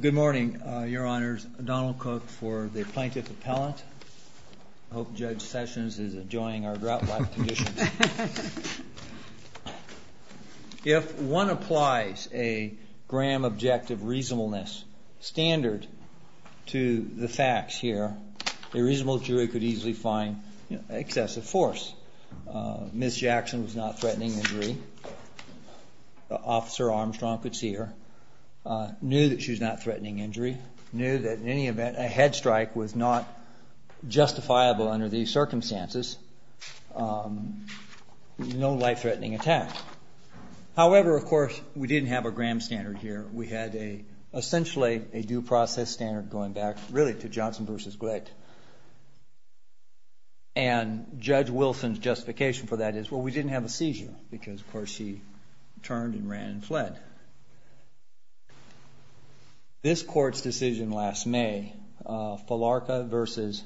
Good morning, Your Honors. Donald Cook for the Plaintiff Appellant. I hope Judge Sessions is enjoying our drought-like conditions. If one applies a Graham objective reasonableness standard to the facts here, a reasonable jury could easily find excessive force. Ms. Jackson was not threatening injury. Officer Armstrong could see her. Knew that she was not threatening injury. Knew that in any event a head strike was not justifiable under these circumstances. No life-threatening attack. However, of course, we didn't have a Graham standard here. We had essentially a due process standard going back really to Johnson v. Glick. And Judge Sessions didn't have a seizure because, of course, she turned and ran and fled. This Court's decision last May, Falarca v.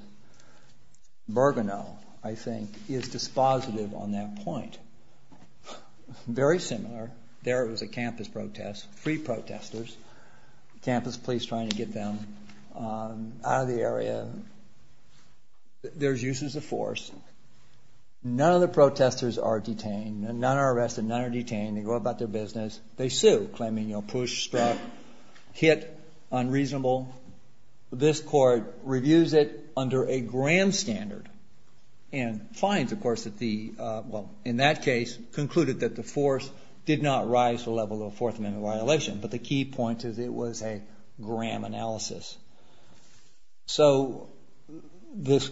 Bergano, I think, is dispositive on that point. Very similar. There it was a campus protest. Free protesters. Campus police trying to get them out of the area. There's uses of force. None of the protesters are detained. None are arrested. None are detained. They go about their business. They sue, claiming, you know, push, strike, hit, unreasonable. This Court reviews it under a Graham standard and finds, of course, that the, well, in that case, concluded that the force did not rise to the level of a Fourth Amendment violation. But the key point is it was a Graham analysis. So this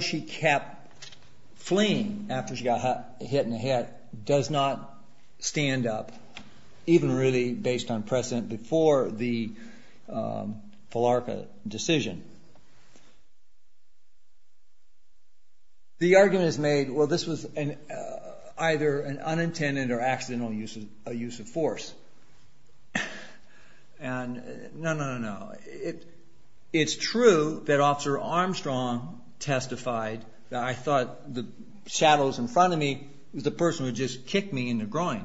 she kept fleeing after she got hit in the head does not stand up, even really based on precedent before the Falarca decision. The argument is made, well, this was either an unintended or accidental use of force. No, no, no, no. It's true that Officer Armstrong testified that I thought the shadows in front of me was the person who just kicked me in the groin.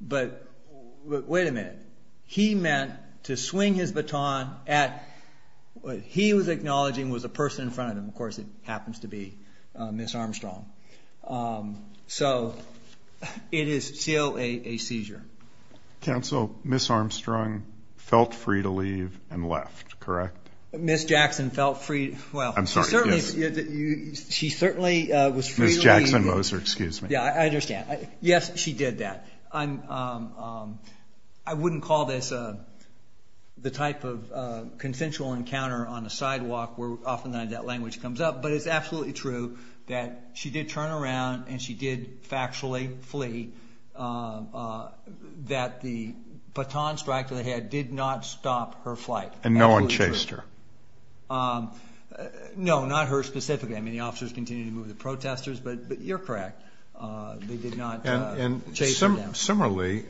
But wait a minute. He meant to swing his baton at what he was acknowledging was a person in front of him. Of course, it happens to be Ms. Armstrong. So it is still a seizure. Counsel, Ms. Armstrong felt free to leave and left, correct? Ms. Jackson felt free. Well, I'm sorry. She certainly was free to leave. Ms. Jackson Moser, excuse me. Yeah, I understand. Yes, she did that. I wouldn't call this the type of consensual encounter on the sidewalk where often that language comes up. But it's absolutely true that she did turn around and she did factually flee, that the baton strike to the head did not stop her flight. And no one chased her? No, not her specifically. I mean, the officers continued to move the protesters, but you're correct. They did not chase her down. And similarly,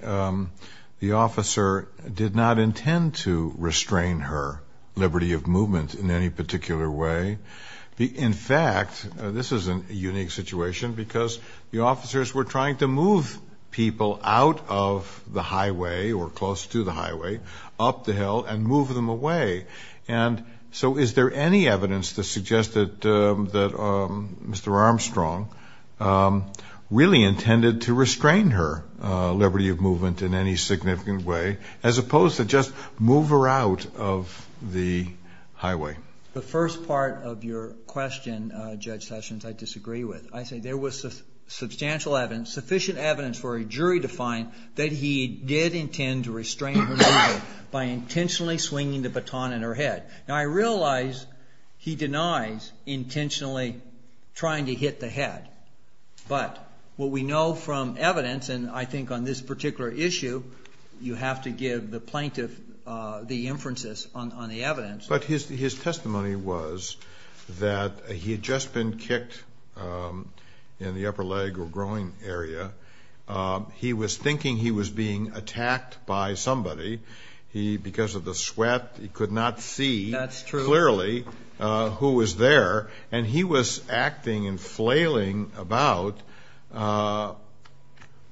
the officer did not intend to restrain her liberty of movement in any particular way. In fact, this is a unique situation because the officers were trying to move people out of the highway or close to the highway up the hill and move them away. And so is there any evidence to suggest that Mr. Armstrong really intended to restrain her liberty of movement in any significant way as opposed to just move her out of the highway? The first part of your question, Judge Sessions, I disagree with. I say there was substantial evidence, sufficient evidence for a jury to find that he did intend to restrain her movement by intentionally swinging the baton in her head. Now, I realize he denies intentionally trying to hit the head. But what we know from evidence, and I think on this particular issue, you have to give the plaintiff the inferences on the evidence. But his testimony was that he had just been kicked in the upper leg or groin area. He was thinking he was being attacked by somebody. Because of the sweat, he could not see clearly who was there. And he was acting and flailing about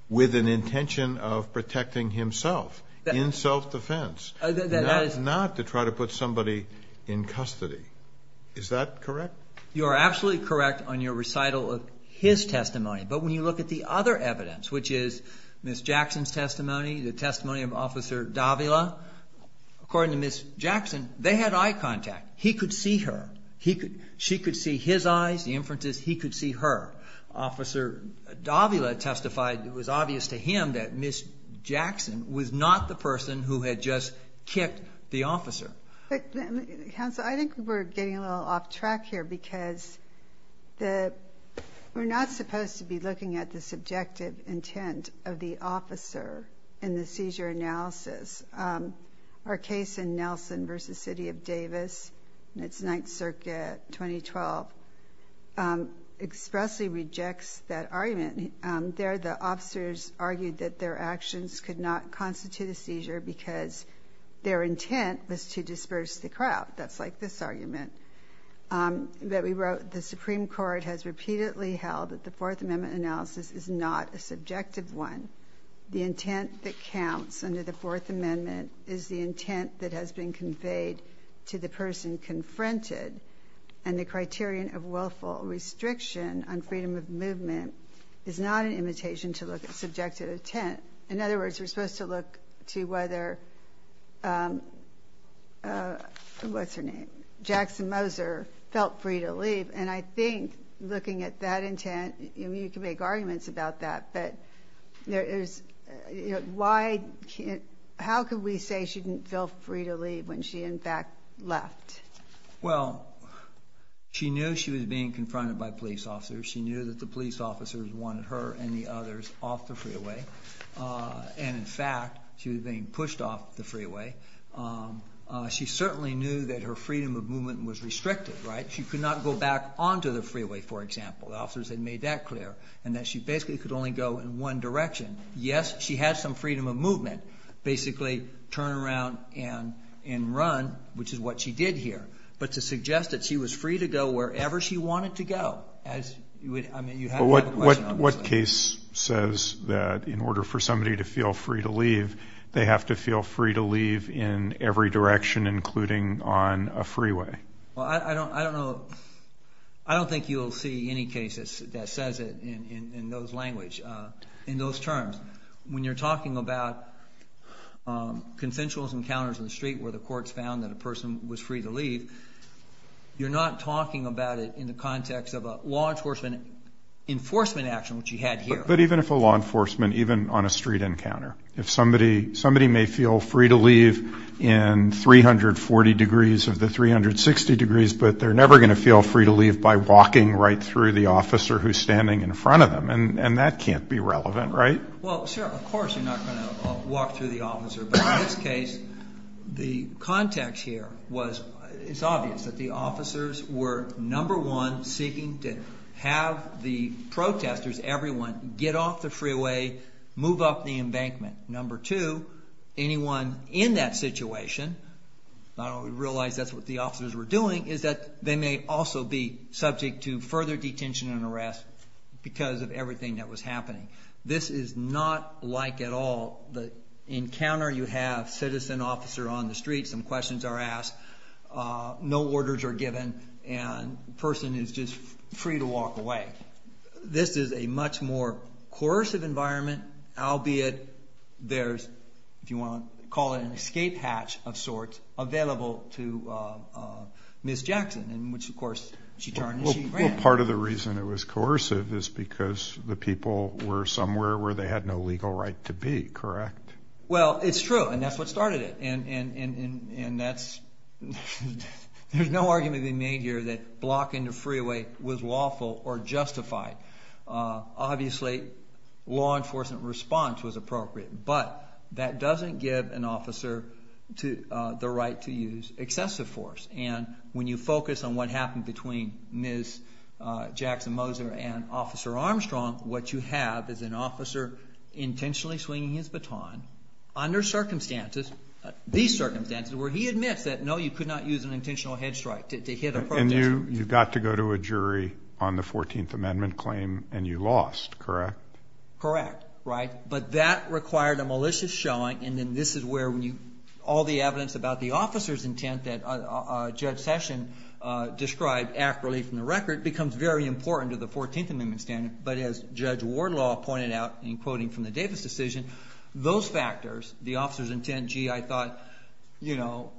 with an intention of protecting himself in self-defense, not to try to put somebody in custody. Is that correct? You are absolutely correct on your recital of his testimony. But when you look at the other evidence, which is Ms. Jackson's testimony, the testimony of Officer Davila, according to Ms. Jackson, they had eye contact. He could see her. She could see his eyes, the inferences. He could see her. Officer Davila testified it was obvious to him that Ms. Jackson was not the person who had just kicked the officer. Counsel, I think we're getting a little off track here because we're not supposed to be looking at the subjective intent of the officer in the seizure analysis. Our case in Nelson v. City of Davis, it's 9th Circuit, 2012, expressly rejects that argument. It's not a legitimate argument. There, the officers argued that their actions could not constitute a seizure because their intent was to disperse the crowd. That's like this argument that we wrote, the Supreme Court has repeatedly held that the Fourth Amendment analysis is not a subjective one. The intent that counts under the Fourth Amendment is the intent that has been conveyed to the person confronted. And the criterion of willful restriction on is not an imitation to look at subjective intent. In other words, we're supposed to look to whether, what's her name, Jackson Moser felt free to leave. And I think looking at that intent, you can make arguments about that, but there is, why, how could we say she didn't feel free to leave when she, in fact, left? Well, she knew she was being confronted by police officers. She knew that the police officers wanted her and the others off the freeway. And in fact, she was being pushed off the freeway. She certainly knew that her freedom of movement was restricted, right? She could not go back onto the freeway, for example. The officers had made that clear, and that she basically could only go in one direction. Yes, she had some freedom of movement, basically turn around and run, which is what she did here. But to suggest that she was being pushed off the freeway, I have a question on this. What case says that in order for somebody to feel free to leave, they have to feel free to leave in every direction, including on a freeway? Well, I don't know. I don't think you'll see any cases that says it in those language, in those terms. When you're talking about consensual encounters in the street where the courts found that a person was free to leave, you're not talking about it in the enforcement action, which you had here. But even if a law enforcement, even on a street encounter, if somebody may feel free to leave in 340 degrees of the 360 degrees, but they're never going to feel free to leave by walking right through the officer who's standing in front of them. And that can't be relevant, right? Well, sure. Of course you're not going to walk through the officer. But in this case, the context here was, it's obvious that the officers were number one seeking to have the protesters, everyone, get off the freeway, move up the embankment. Number two, anyone in that situation, I don't realize that's what the officers were doing, is that they may also be subject to further detention and arrest because of everything that was happening. This is not like at all the encounter you have, citizen officer on the street, some questions are asked, no orders are given, and the person is just free to walk away. This is a much more coercive environment, albeit there's, if you want to call it an escape hatch of sorts, available to Ms. Jackson, in which, of course, she turned and she ran. Part of the reason it was coercive is because the people were somewhere where they had no legal right to be, correct? Well, it's true, and that's what started it. And that's, there's no argument being made here that blocking the freeway was lawful or justified. Obviously, law enforcement response was appropriate, but that doesn't give an officer the right to use excessive force. And when you focus on what happened between Ms. Jackson Moser and Officer Armstrong, what you have is an officer intentionally swinging his baton under circumstances, these circumstances, where he admits that, no, you could not use an intentional head strike to hit a protester. You got to go to a jury on the 14th Amendment claim, and you lost, correct? Correct, right? But that required a malicious showing, and then this is where all the evidence about the officer's intent that Judge Session described accurately from the record becomes very important to the 14th Amendment standard. But as Judge Wardlaw pointed out in quoting from the Davis decision, those factors, the officer's intent, gee, I thought, you know,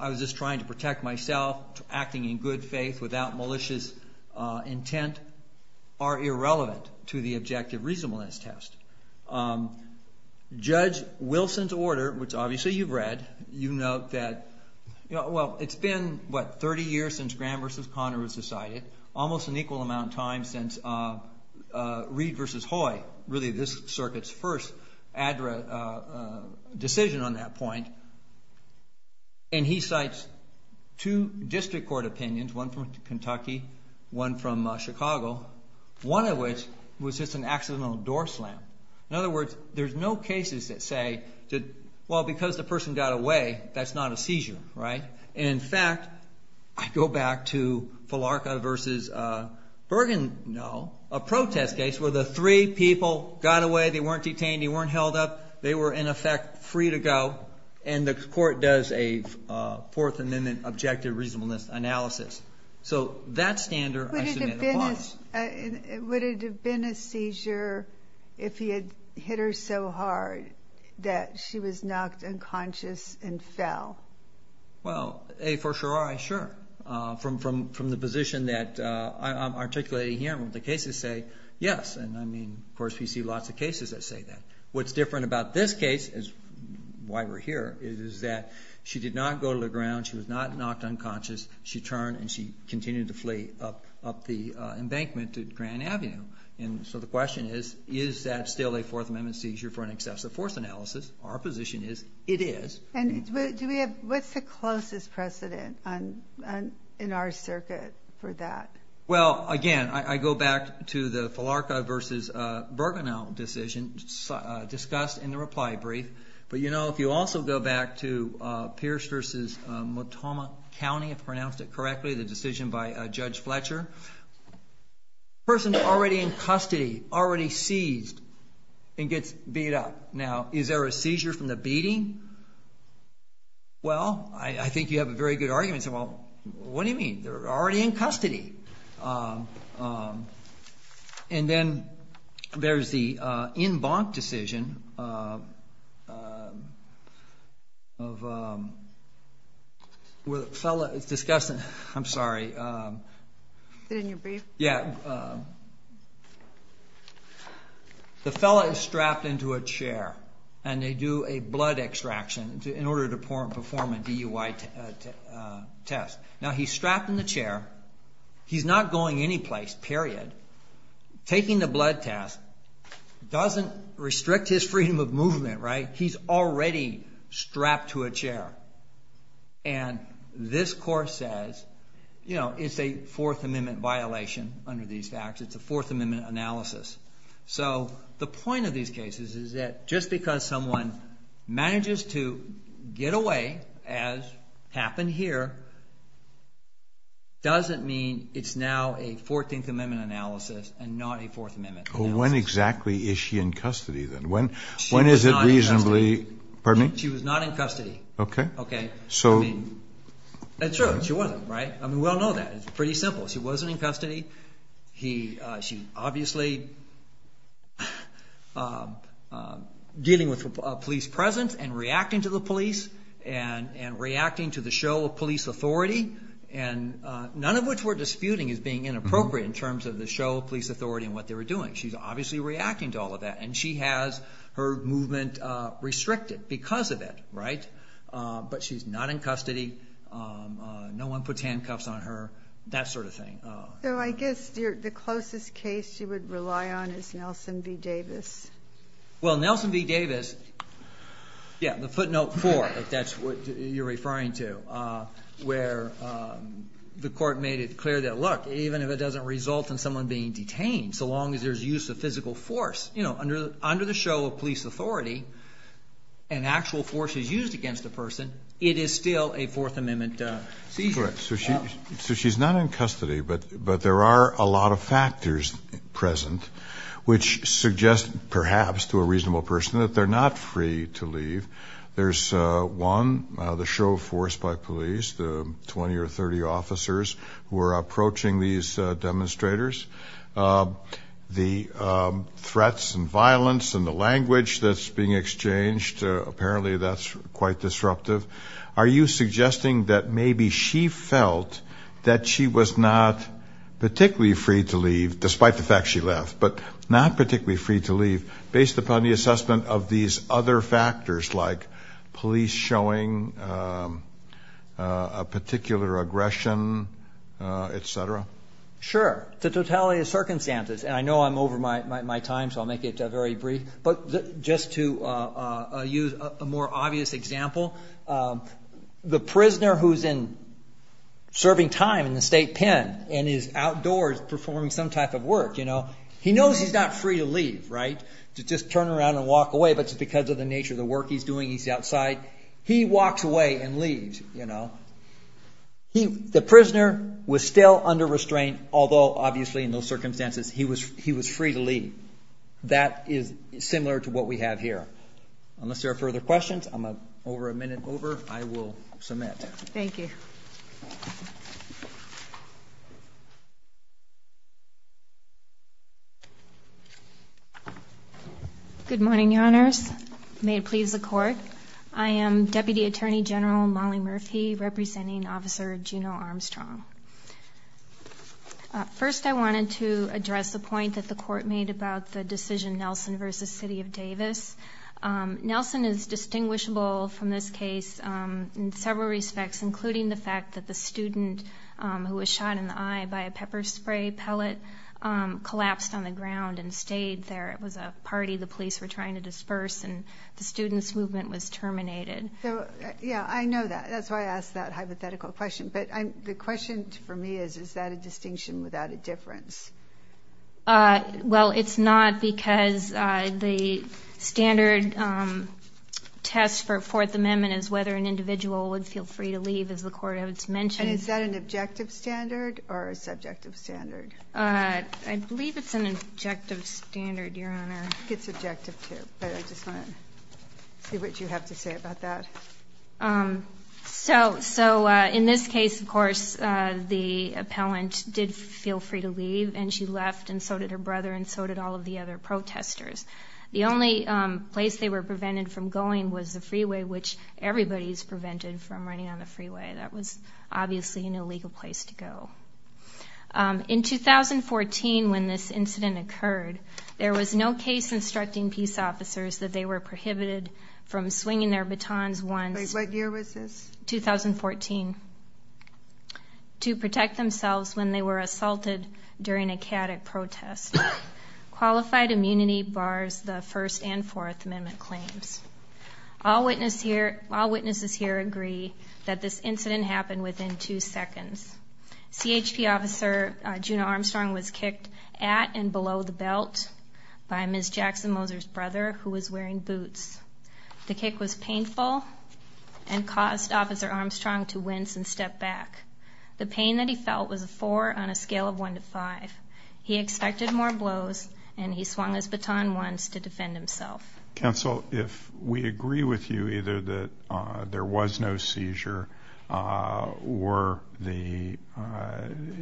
I was just trying to protect myself, acting in good faith without malicious intent, are irrelevant to the objective reasonableness test. Judge Wilson's order, which obviously you've read, you note that, well, it's been, what, 30 years since Graham v. Conner was decided, almost an equal amount of time since Reed v. Hoy, really this circuit's first decision on that point, and he cites two district court opinions, one from Kentucky, one from Chicago, one of which was just an accidental door slam. In other words, there's no cases that say that, well, because the person got away, that's not a seizure, right? And in fact, I go back to Falarka v. Bergen, no, a protest case where the three people got away, they weren't detained, they weren't held up, they were, in effect, free to go, and the court does a 14th Amendment objective reasonableness analysis. So that standard I submit applies. Would it have been a seizure if he had hit her so hard that she was knocked unconscious and fell? Well, A, for sure, I, sure. From the position that I'm articulating here, the cases say that, yes, and I mean, of course, we see lots of cases that say that. What's different about this case is, why we're here, is that she did not go to the ground, she was not knocked unconscious, she turned and she continued to flee up the embankment to Grand Avenue. And so the question is, is that still a Fourth Amendment seizure for an excessive force analysis? Our position is, it is. And do we have, what's the closest precedent in our circuit for that? Well, again, I go back to the Filarka v. Bergenow decision discussed in the reply brief. But, you know, if you also go back to Pierce v. Motoma County, if I pronounced it correctly, the decision by Judge Fletcher, the person's already in custody, already seized, and gets beat up. Now, is there a seizure from the beating? Well, I think you have a very good argument. You say, well, what do you mean? They're already in custody. And then there's the in bonk decision of, where the fellow is discussing, I'm sorry, the fellow is strapped into a chair and they do a blood extraction in order to perform a DUI test. Now, he's strapped in the chair, he's not going anyplace, period. Taking the blood test doesn't restrict his freedom of movement, right? He's already strapped to a chair. And this court says, you know, it's a Fourth Amendment violation under these facts. It's a Fourth Amendment analysis. So, the point of these cases is that just because someone manages to get away, as happened here, doesn't mean it's now a Fourteenth Amendment analysis and not a Fourth Amendment analysis. Well, when exactly is she in custody, then? When is it reasonably... She was not in custody. Pardon me? She was not in custody. Okay. Okay. So... I mean, it's true, she wasn't, right? I mean, we all know that. It's pretty simple. She was obviously dealing with a police presence and reacting to the police and reacting to the show of police authority, none of which we're disputing as being inappropriate in terms of the show of police authority and what they were doing. She's obviously reacting to all of that and she has her movement restricted because of it, right? But she's not in custody. No one puts handcuffs on her, that sort of thing. So, I guess the closest case you would rely on is Nelson v. Davis. Well, Nelson v. Davis, yeah, the footnote four, if that's what you're referring to, where the court made it clear that, look, even if it doesn't result in someone being detained, so long as there's use of physical force, you know, under the show of police authority, and actual force is used against the person, it is still a Fourth Amendment seizure. Correct. So she's not in custody, but there are a lot of factors present which suggest, perhaps, to a reasonable person that they're not free to leave. There's one, the show of force by police, the 20 or 30 officers who are approaching these demonstrators, the threats and violence and the language that's being exchanged, apparently that's quite disruptive. Are you suggesting that maybe she felt that she was not particularly free to leave, despite the fact she left, but not particularly free to leave based upon the assessment of these other factors, like police showing a particular aggression, et cetera? Sure. The totality of circumstances, and I know I'm over my time, so I'll make it very brief, but just to use a more obvious example, the prisoner who's in serving time in the state pen and is outdoors performing some type of work, you know, he knows he's not free to leave, right, to just turn around and the nature of the work he's doing, he's outside. He walks away and leaves, you know. The prisoner was still under restraint, although obviously in those circumstances he was free to leave. That is similar to what we have here. Unless there are further questions, I'm over a minute over, I will submit. Thank you. Good morning, Your Honors. May it please the Court. I am Deputy Attorney General Molly Murphy, representing Officer Junot Armstrong. First, I wanted to address the point that the Court made about the decision Nelson v. City of Davis. Nelson is in several respects, including the fact that the student who was shot in the eye by a pepper spray pellet collapsed on the ground and stayed there. It was a party the police were trying to disperse, and the student's movement was terminated. Yeah, I know that. That's why I asked that hypothetical question, but the question for me is, is that a distinction without a difference? Well, it's not because the standard test for Fourth Amendment is whether an individual would feel free to leave, as the Court has mentioned. And is that an objective standard or a subjective standard? I believe it's an objective standard, Your Honor. I think it's objective too, but I just want to see what you have to say about that. So in this case, of course, the appellant did feel free to leave, and she left, and so did her brother, and so did all of the other protesters. The only place they were prevented from going was the freeway, which everybody's prevented from running on the freeway. That was obviously an illegal place to go. In 2014, when this incident occurred, there was no case instructing peace officers that they were prohibited from swinging their batons once. Wait, what year was this? 2014. To protect themselves when they were assaulted during a chaotic protest. Qualified immunity bars the First and Fourth Amendment claims. All witnesses here agree that this incident happened within two seconds. CHP officer Juna Armstrong was kicked at and below the belt by Ms. Jackson-Moser's brother, who was wearing boots. The kick was painful and caused Officer Armstrong to wince and step back. The pain that he felt was a four on a scale of one to five. He expected more blows, and he swung his baton once to defend himself. Counsel, if we agree with you, either that there was no seizure, or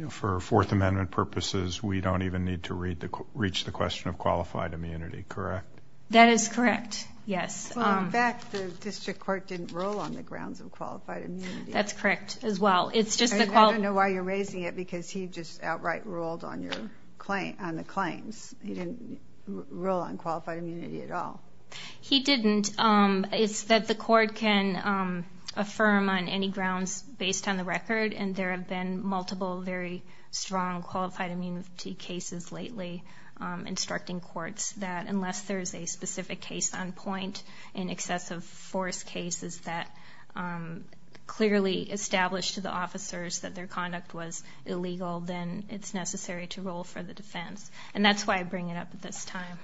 for Fourth Amendment purposes, we don't even need to reach the question of qualified immunity, correct? That is correct, yes. In fact, the district court didn't rule on the grounds of qualified immunity. That's correct, as well. I don't know why you're raising it, because he just outright ruled on your claim, on the claims. He didn't rule on qualified immunity at all. He didn't. It's that the court can affirm on any grounds based on the record, and there have been multiple very strong qualified immunity cases lately instructing courts that unless there's a specific case on point in excessive force cases that clearly established to the officers that their conduct was illegal, then it's necessary to roll for the defense. And that's why I bring it up at this time.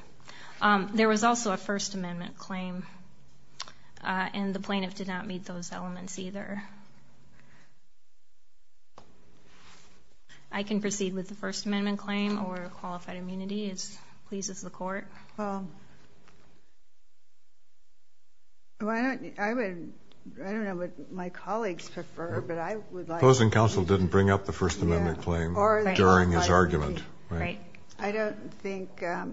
There was also a First Amendment claim, and the plaintiff did not those elements either. I can proceed with the First Amendment claim, or qualified immunity, as pleases the court. Well, I don't know what my colleagues prefer, but I would like... Closing counsel didn't bring up the First Amendment claim during his argument. Right. I don't think, I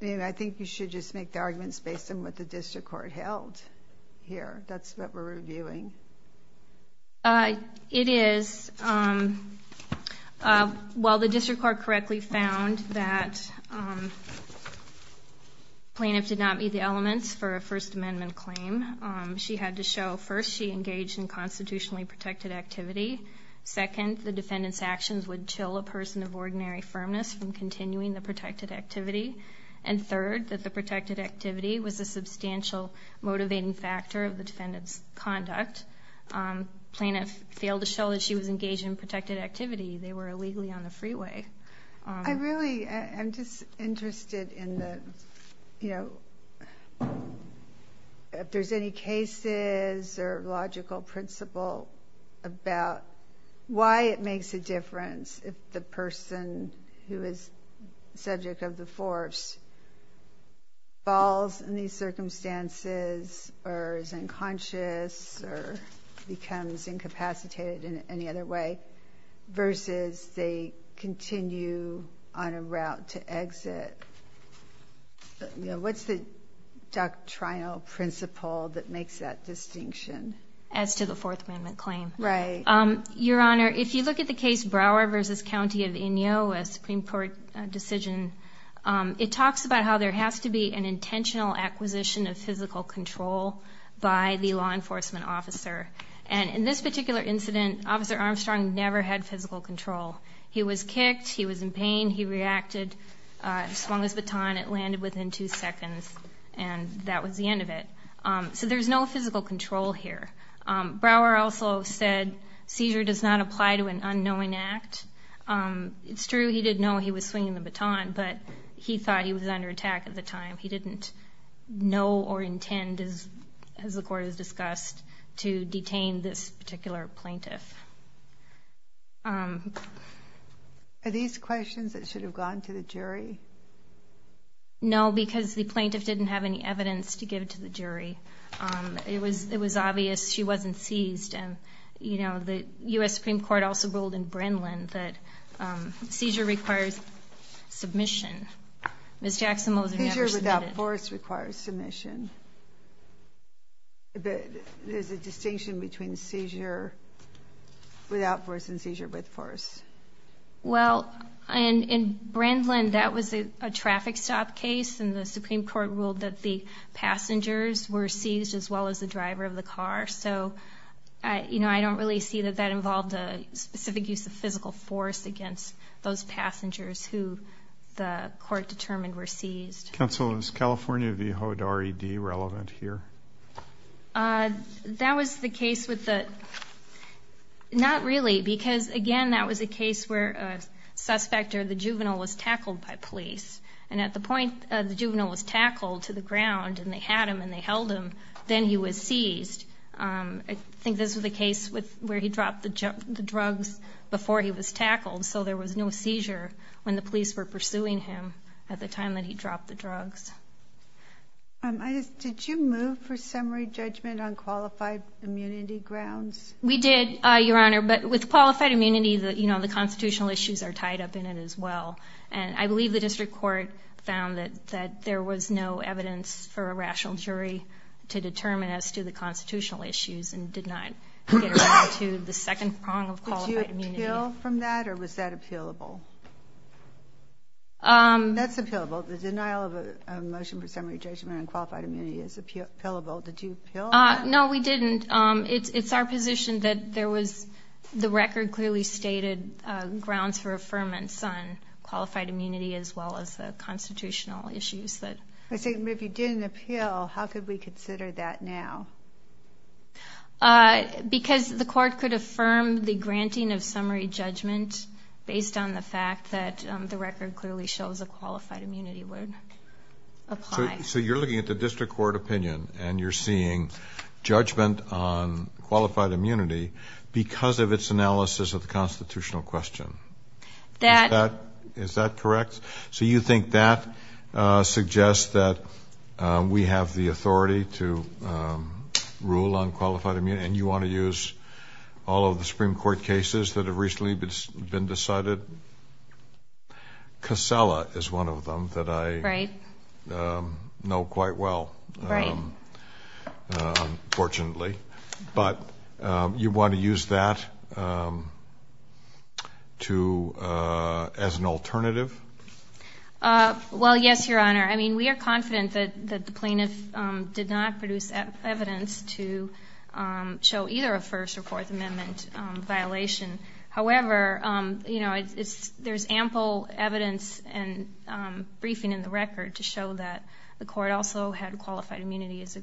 mean, I think you should just make the arguments based on what the district court held here. That's what we're reviewing. It is. Well, the district court correctly found that plaintiff did not meet the elements for a First Amendment claim. She had to show, first, she engaged in constitutionally protected activity. Second, the defendant's actions would chill a person of ordinary firmness from continuing the protected activity. And third, that the protected activity was a substantial motivating factor of the defendant's conduct. Plaintiff failed to show that she was engaged in protected activity. They were illegally on the freeway. I really am just interested in the, you know, if there's any cases or logical principle about why it makes a difference if the person who is subject of the force falls in these circumstances, or is unconscious, or becomes incapacitated in any other way, versus they continue on a route to exit. You know, what's the doctrinal principle that makes that distinction? As to the Fourth Amendment claim. Your Honor, if you look at the case Brower v. County of Inyo, a Supreme Court decision, it talks about how there has to be an intentional acquisition of physical control by the law enforcement officer. And in this particular incident, Officer Armstrong never had physical control. He was kicked, he was in pain, he reacted, swung his baton, it landed within two seconds, and that was the end of it. So there's no physical control here. Brower also said, seizure does not apply to an unknowing act. It's true he didn't know he was swinging the baton, but he thought he was under attack at the time. He didn't know or intend, as the Court has discussed, to detain this particular plaintiff. Are these questions that should have gone to the jury? No, because the plaintiff didn't have any evidence to give to the jury. It was obvious she wasn't seized. And, you know, the U.S. Supreme Court also ruled in Brendlin that seizure requires submission. Ms. Jackson was never submitted. Seizure without force requires submission. But there's a distinction between seizure without force and seizure with force. Well, in Brendlin, that was a traffic stop case, and the Supreme Court ruled that the passengers were seized as well as the driver of the car. So, you know, I don't really see that that involved a specific use of physical force against those passengers who the Court determined were seized. Counsel, is California v. HODE R.E.D. relevant here? That was the case with the... not really, because, again, that was a case where a suspect or the juvenile was tackled by police. And at the point the juvenile was tackled to the ground, and they had him and they held him, then he was seized. I think this was a case where he dropped the drugs before he was tackled, so there was no seizure when the police were pursuing him at the time that he dropped the drugs. Did you move for qualified immunity? You know, the constitutional issues are tied up in it as well. And I believe the district court found that there was no evidence for a rational jury to determine as to the constitutional issues and did not get down to the second prong of qualified immunity. Did you appeal from that, or was that appealable? That's appealable. The denial of a motion for summary judgment on qualified immunity is appealable. Did you appeal? No, we didn't. It's our position that there was... the record clearly stated grounds for affirmance on qualified immunity as well as the constitutional issues that... I think if you didn't appeal, how could we consider that now? Because the court could affirm the granting of summary judgment based on the fact that the record clearly shows a qualified immunity would apply. So you're looking at the district court opinion, and you're seeing judgment on qualified immunity because of its analysis of the constitutional question. Is that correct? So you think that suggests that we have the authority to rule on qualified immunity, and you want to use all of the Supreme Court cases that have been decided? Casella is one of them that I know quite well, fortunately. But you want to use that to... as an alternative? Well, yes, Your Honor. I mean, we are confident that the plaintiff did not enforce a Fourth Amendment violation. However, there's ample evidence and briefing in the record to show that the court also had qualified immunity as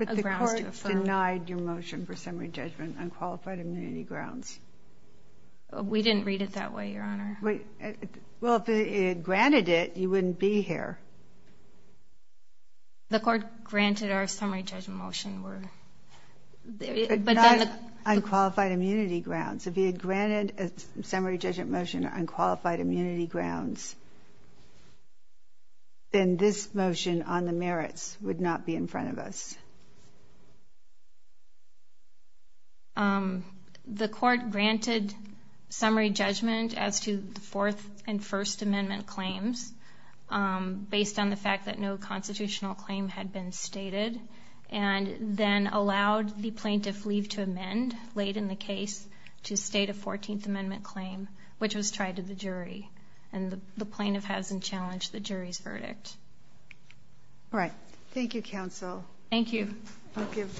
a grounds to affirm. But the court denied your motion for summary judgment on qualified immunity grounds? We didn't read it that way, Your Honor. Well, if it had granted it, you wouldn't be here. The court granted our summary judgment motion. But not on qualified immunity grounds. If he had granted a summary judgment motion on qualified immunity grounds, then this motion on the merits would not be in front of us. The court granted summary judgment as to the Fourth and First Amendment claims based on the fact that no then allowed the plaintiff leave to amend late in the case to state a Fourteenth Amendment claim, which was tried to the jury. And the plaintiff hasn't challenged the jury's verdict. All right. Thank you, counsel. Thank you. I'll give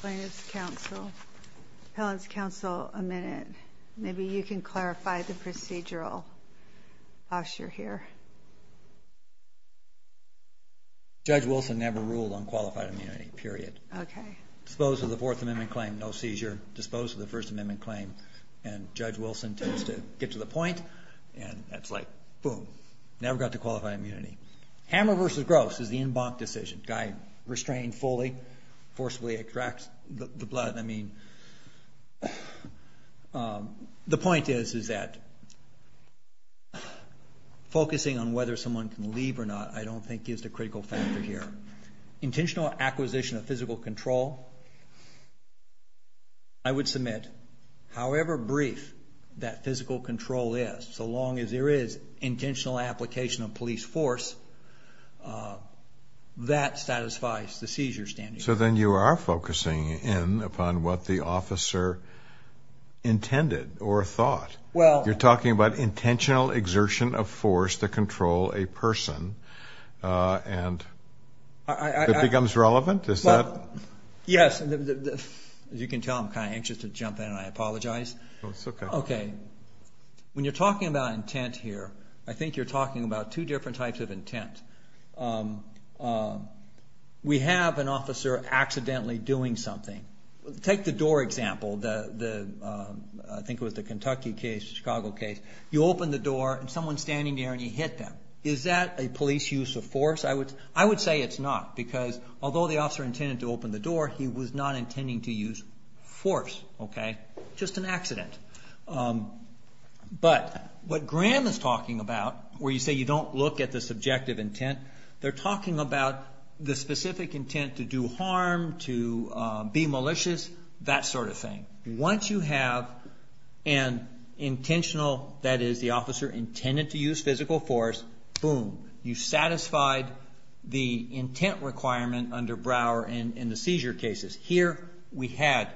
plaintiff's counsel, appellant's counsel, a minute. Maybe you can clarify the procedural usher here. Judge Wilson never ruled on qualified immunity, period. Okay. Disposed of the Fourth Amendment claim, no seizure. Disposed of the First Amendment claim, and Judge Wilson tends to get to the point, and that's like, boom. Never got to qualified immunity. Hammer versus Gross is the en banc decision. Guy restrained fully, forcibly extracts the blood. I mean, the point is that focusing on whether someone can leave or not, I don't think is the critical factor here. Intentional acquisition of physical control, I would submit however brief that physical control is, so long as there is intentional application of upon what the officer intended or thought. You're talking about intentional exertion of force to control a person, and it becomes relevant? Yes. As you can tell, I'm kind of anxious to jump in, and I apologize. Okay. When you're talking about intent here, I think you're talking about two Take the door example, I think it was the Kentucky case, Chicago case. You open the door, and someone's standing there, and you hit them. Is that a police use of force? I would say it's not, because although the officer intended to open the door, he was not intending to use force. Okay. Just an accident. But what Graham is talking about, where you say you don't look at the subjective intent, they're talking about the specific intent to do harm, to be malicious, that sort of thing. Once you have an intentional, that is the officer intended to use physical force, boom. You satisfied the intent requirement under Brouwer in the seizure cases. Here we had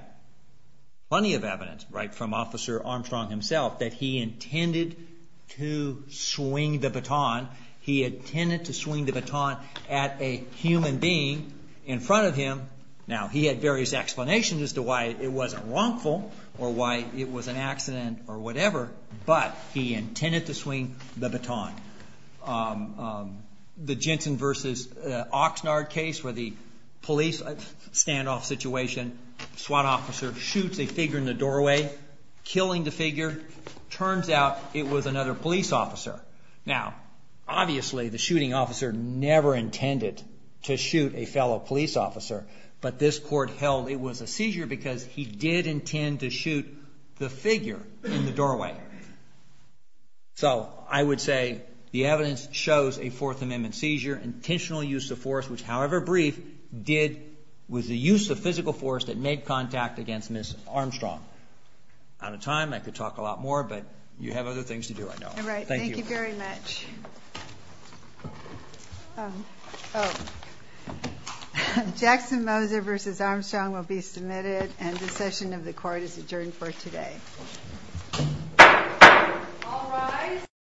plenty of evidence, right, from Officer Armstrong himself, that he intended to swing the baton. He intended to swing the baton at a human being in front of him. Now, he had various explanations as to why it wasn't wrongful, or why it was an accident, or whatever, but he intended to swing the baton. The Jensen v. Oxnard case, where the police standoff situation, SWAT officer shoots a figure, turns out it was another police officer. Now, obviously, the shooting officer never intended to shoot a fellow police officer, but this court held it was a seizure because he did intend to shoot the figure in the doorway. So, I would say the evidence shows a Fourth Amendment seizure, intentional use of force, which, however brief, was the use of force. I could talk a lot more, but you have other things to do, I know. All right, thank you very much. Jackson Moser v. Armstrong will be submitted, and the session of the court is adjourned for today.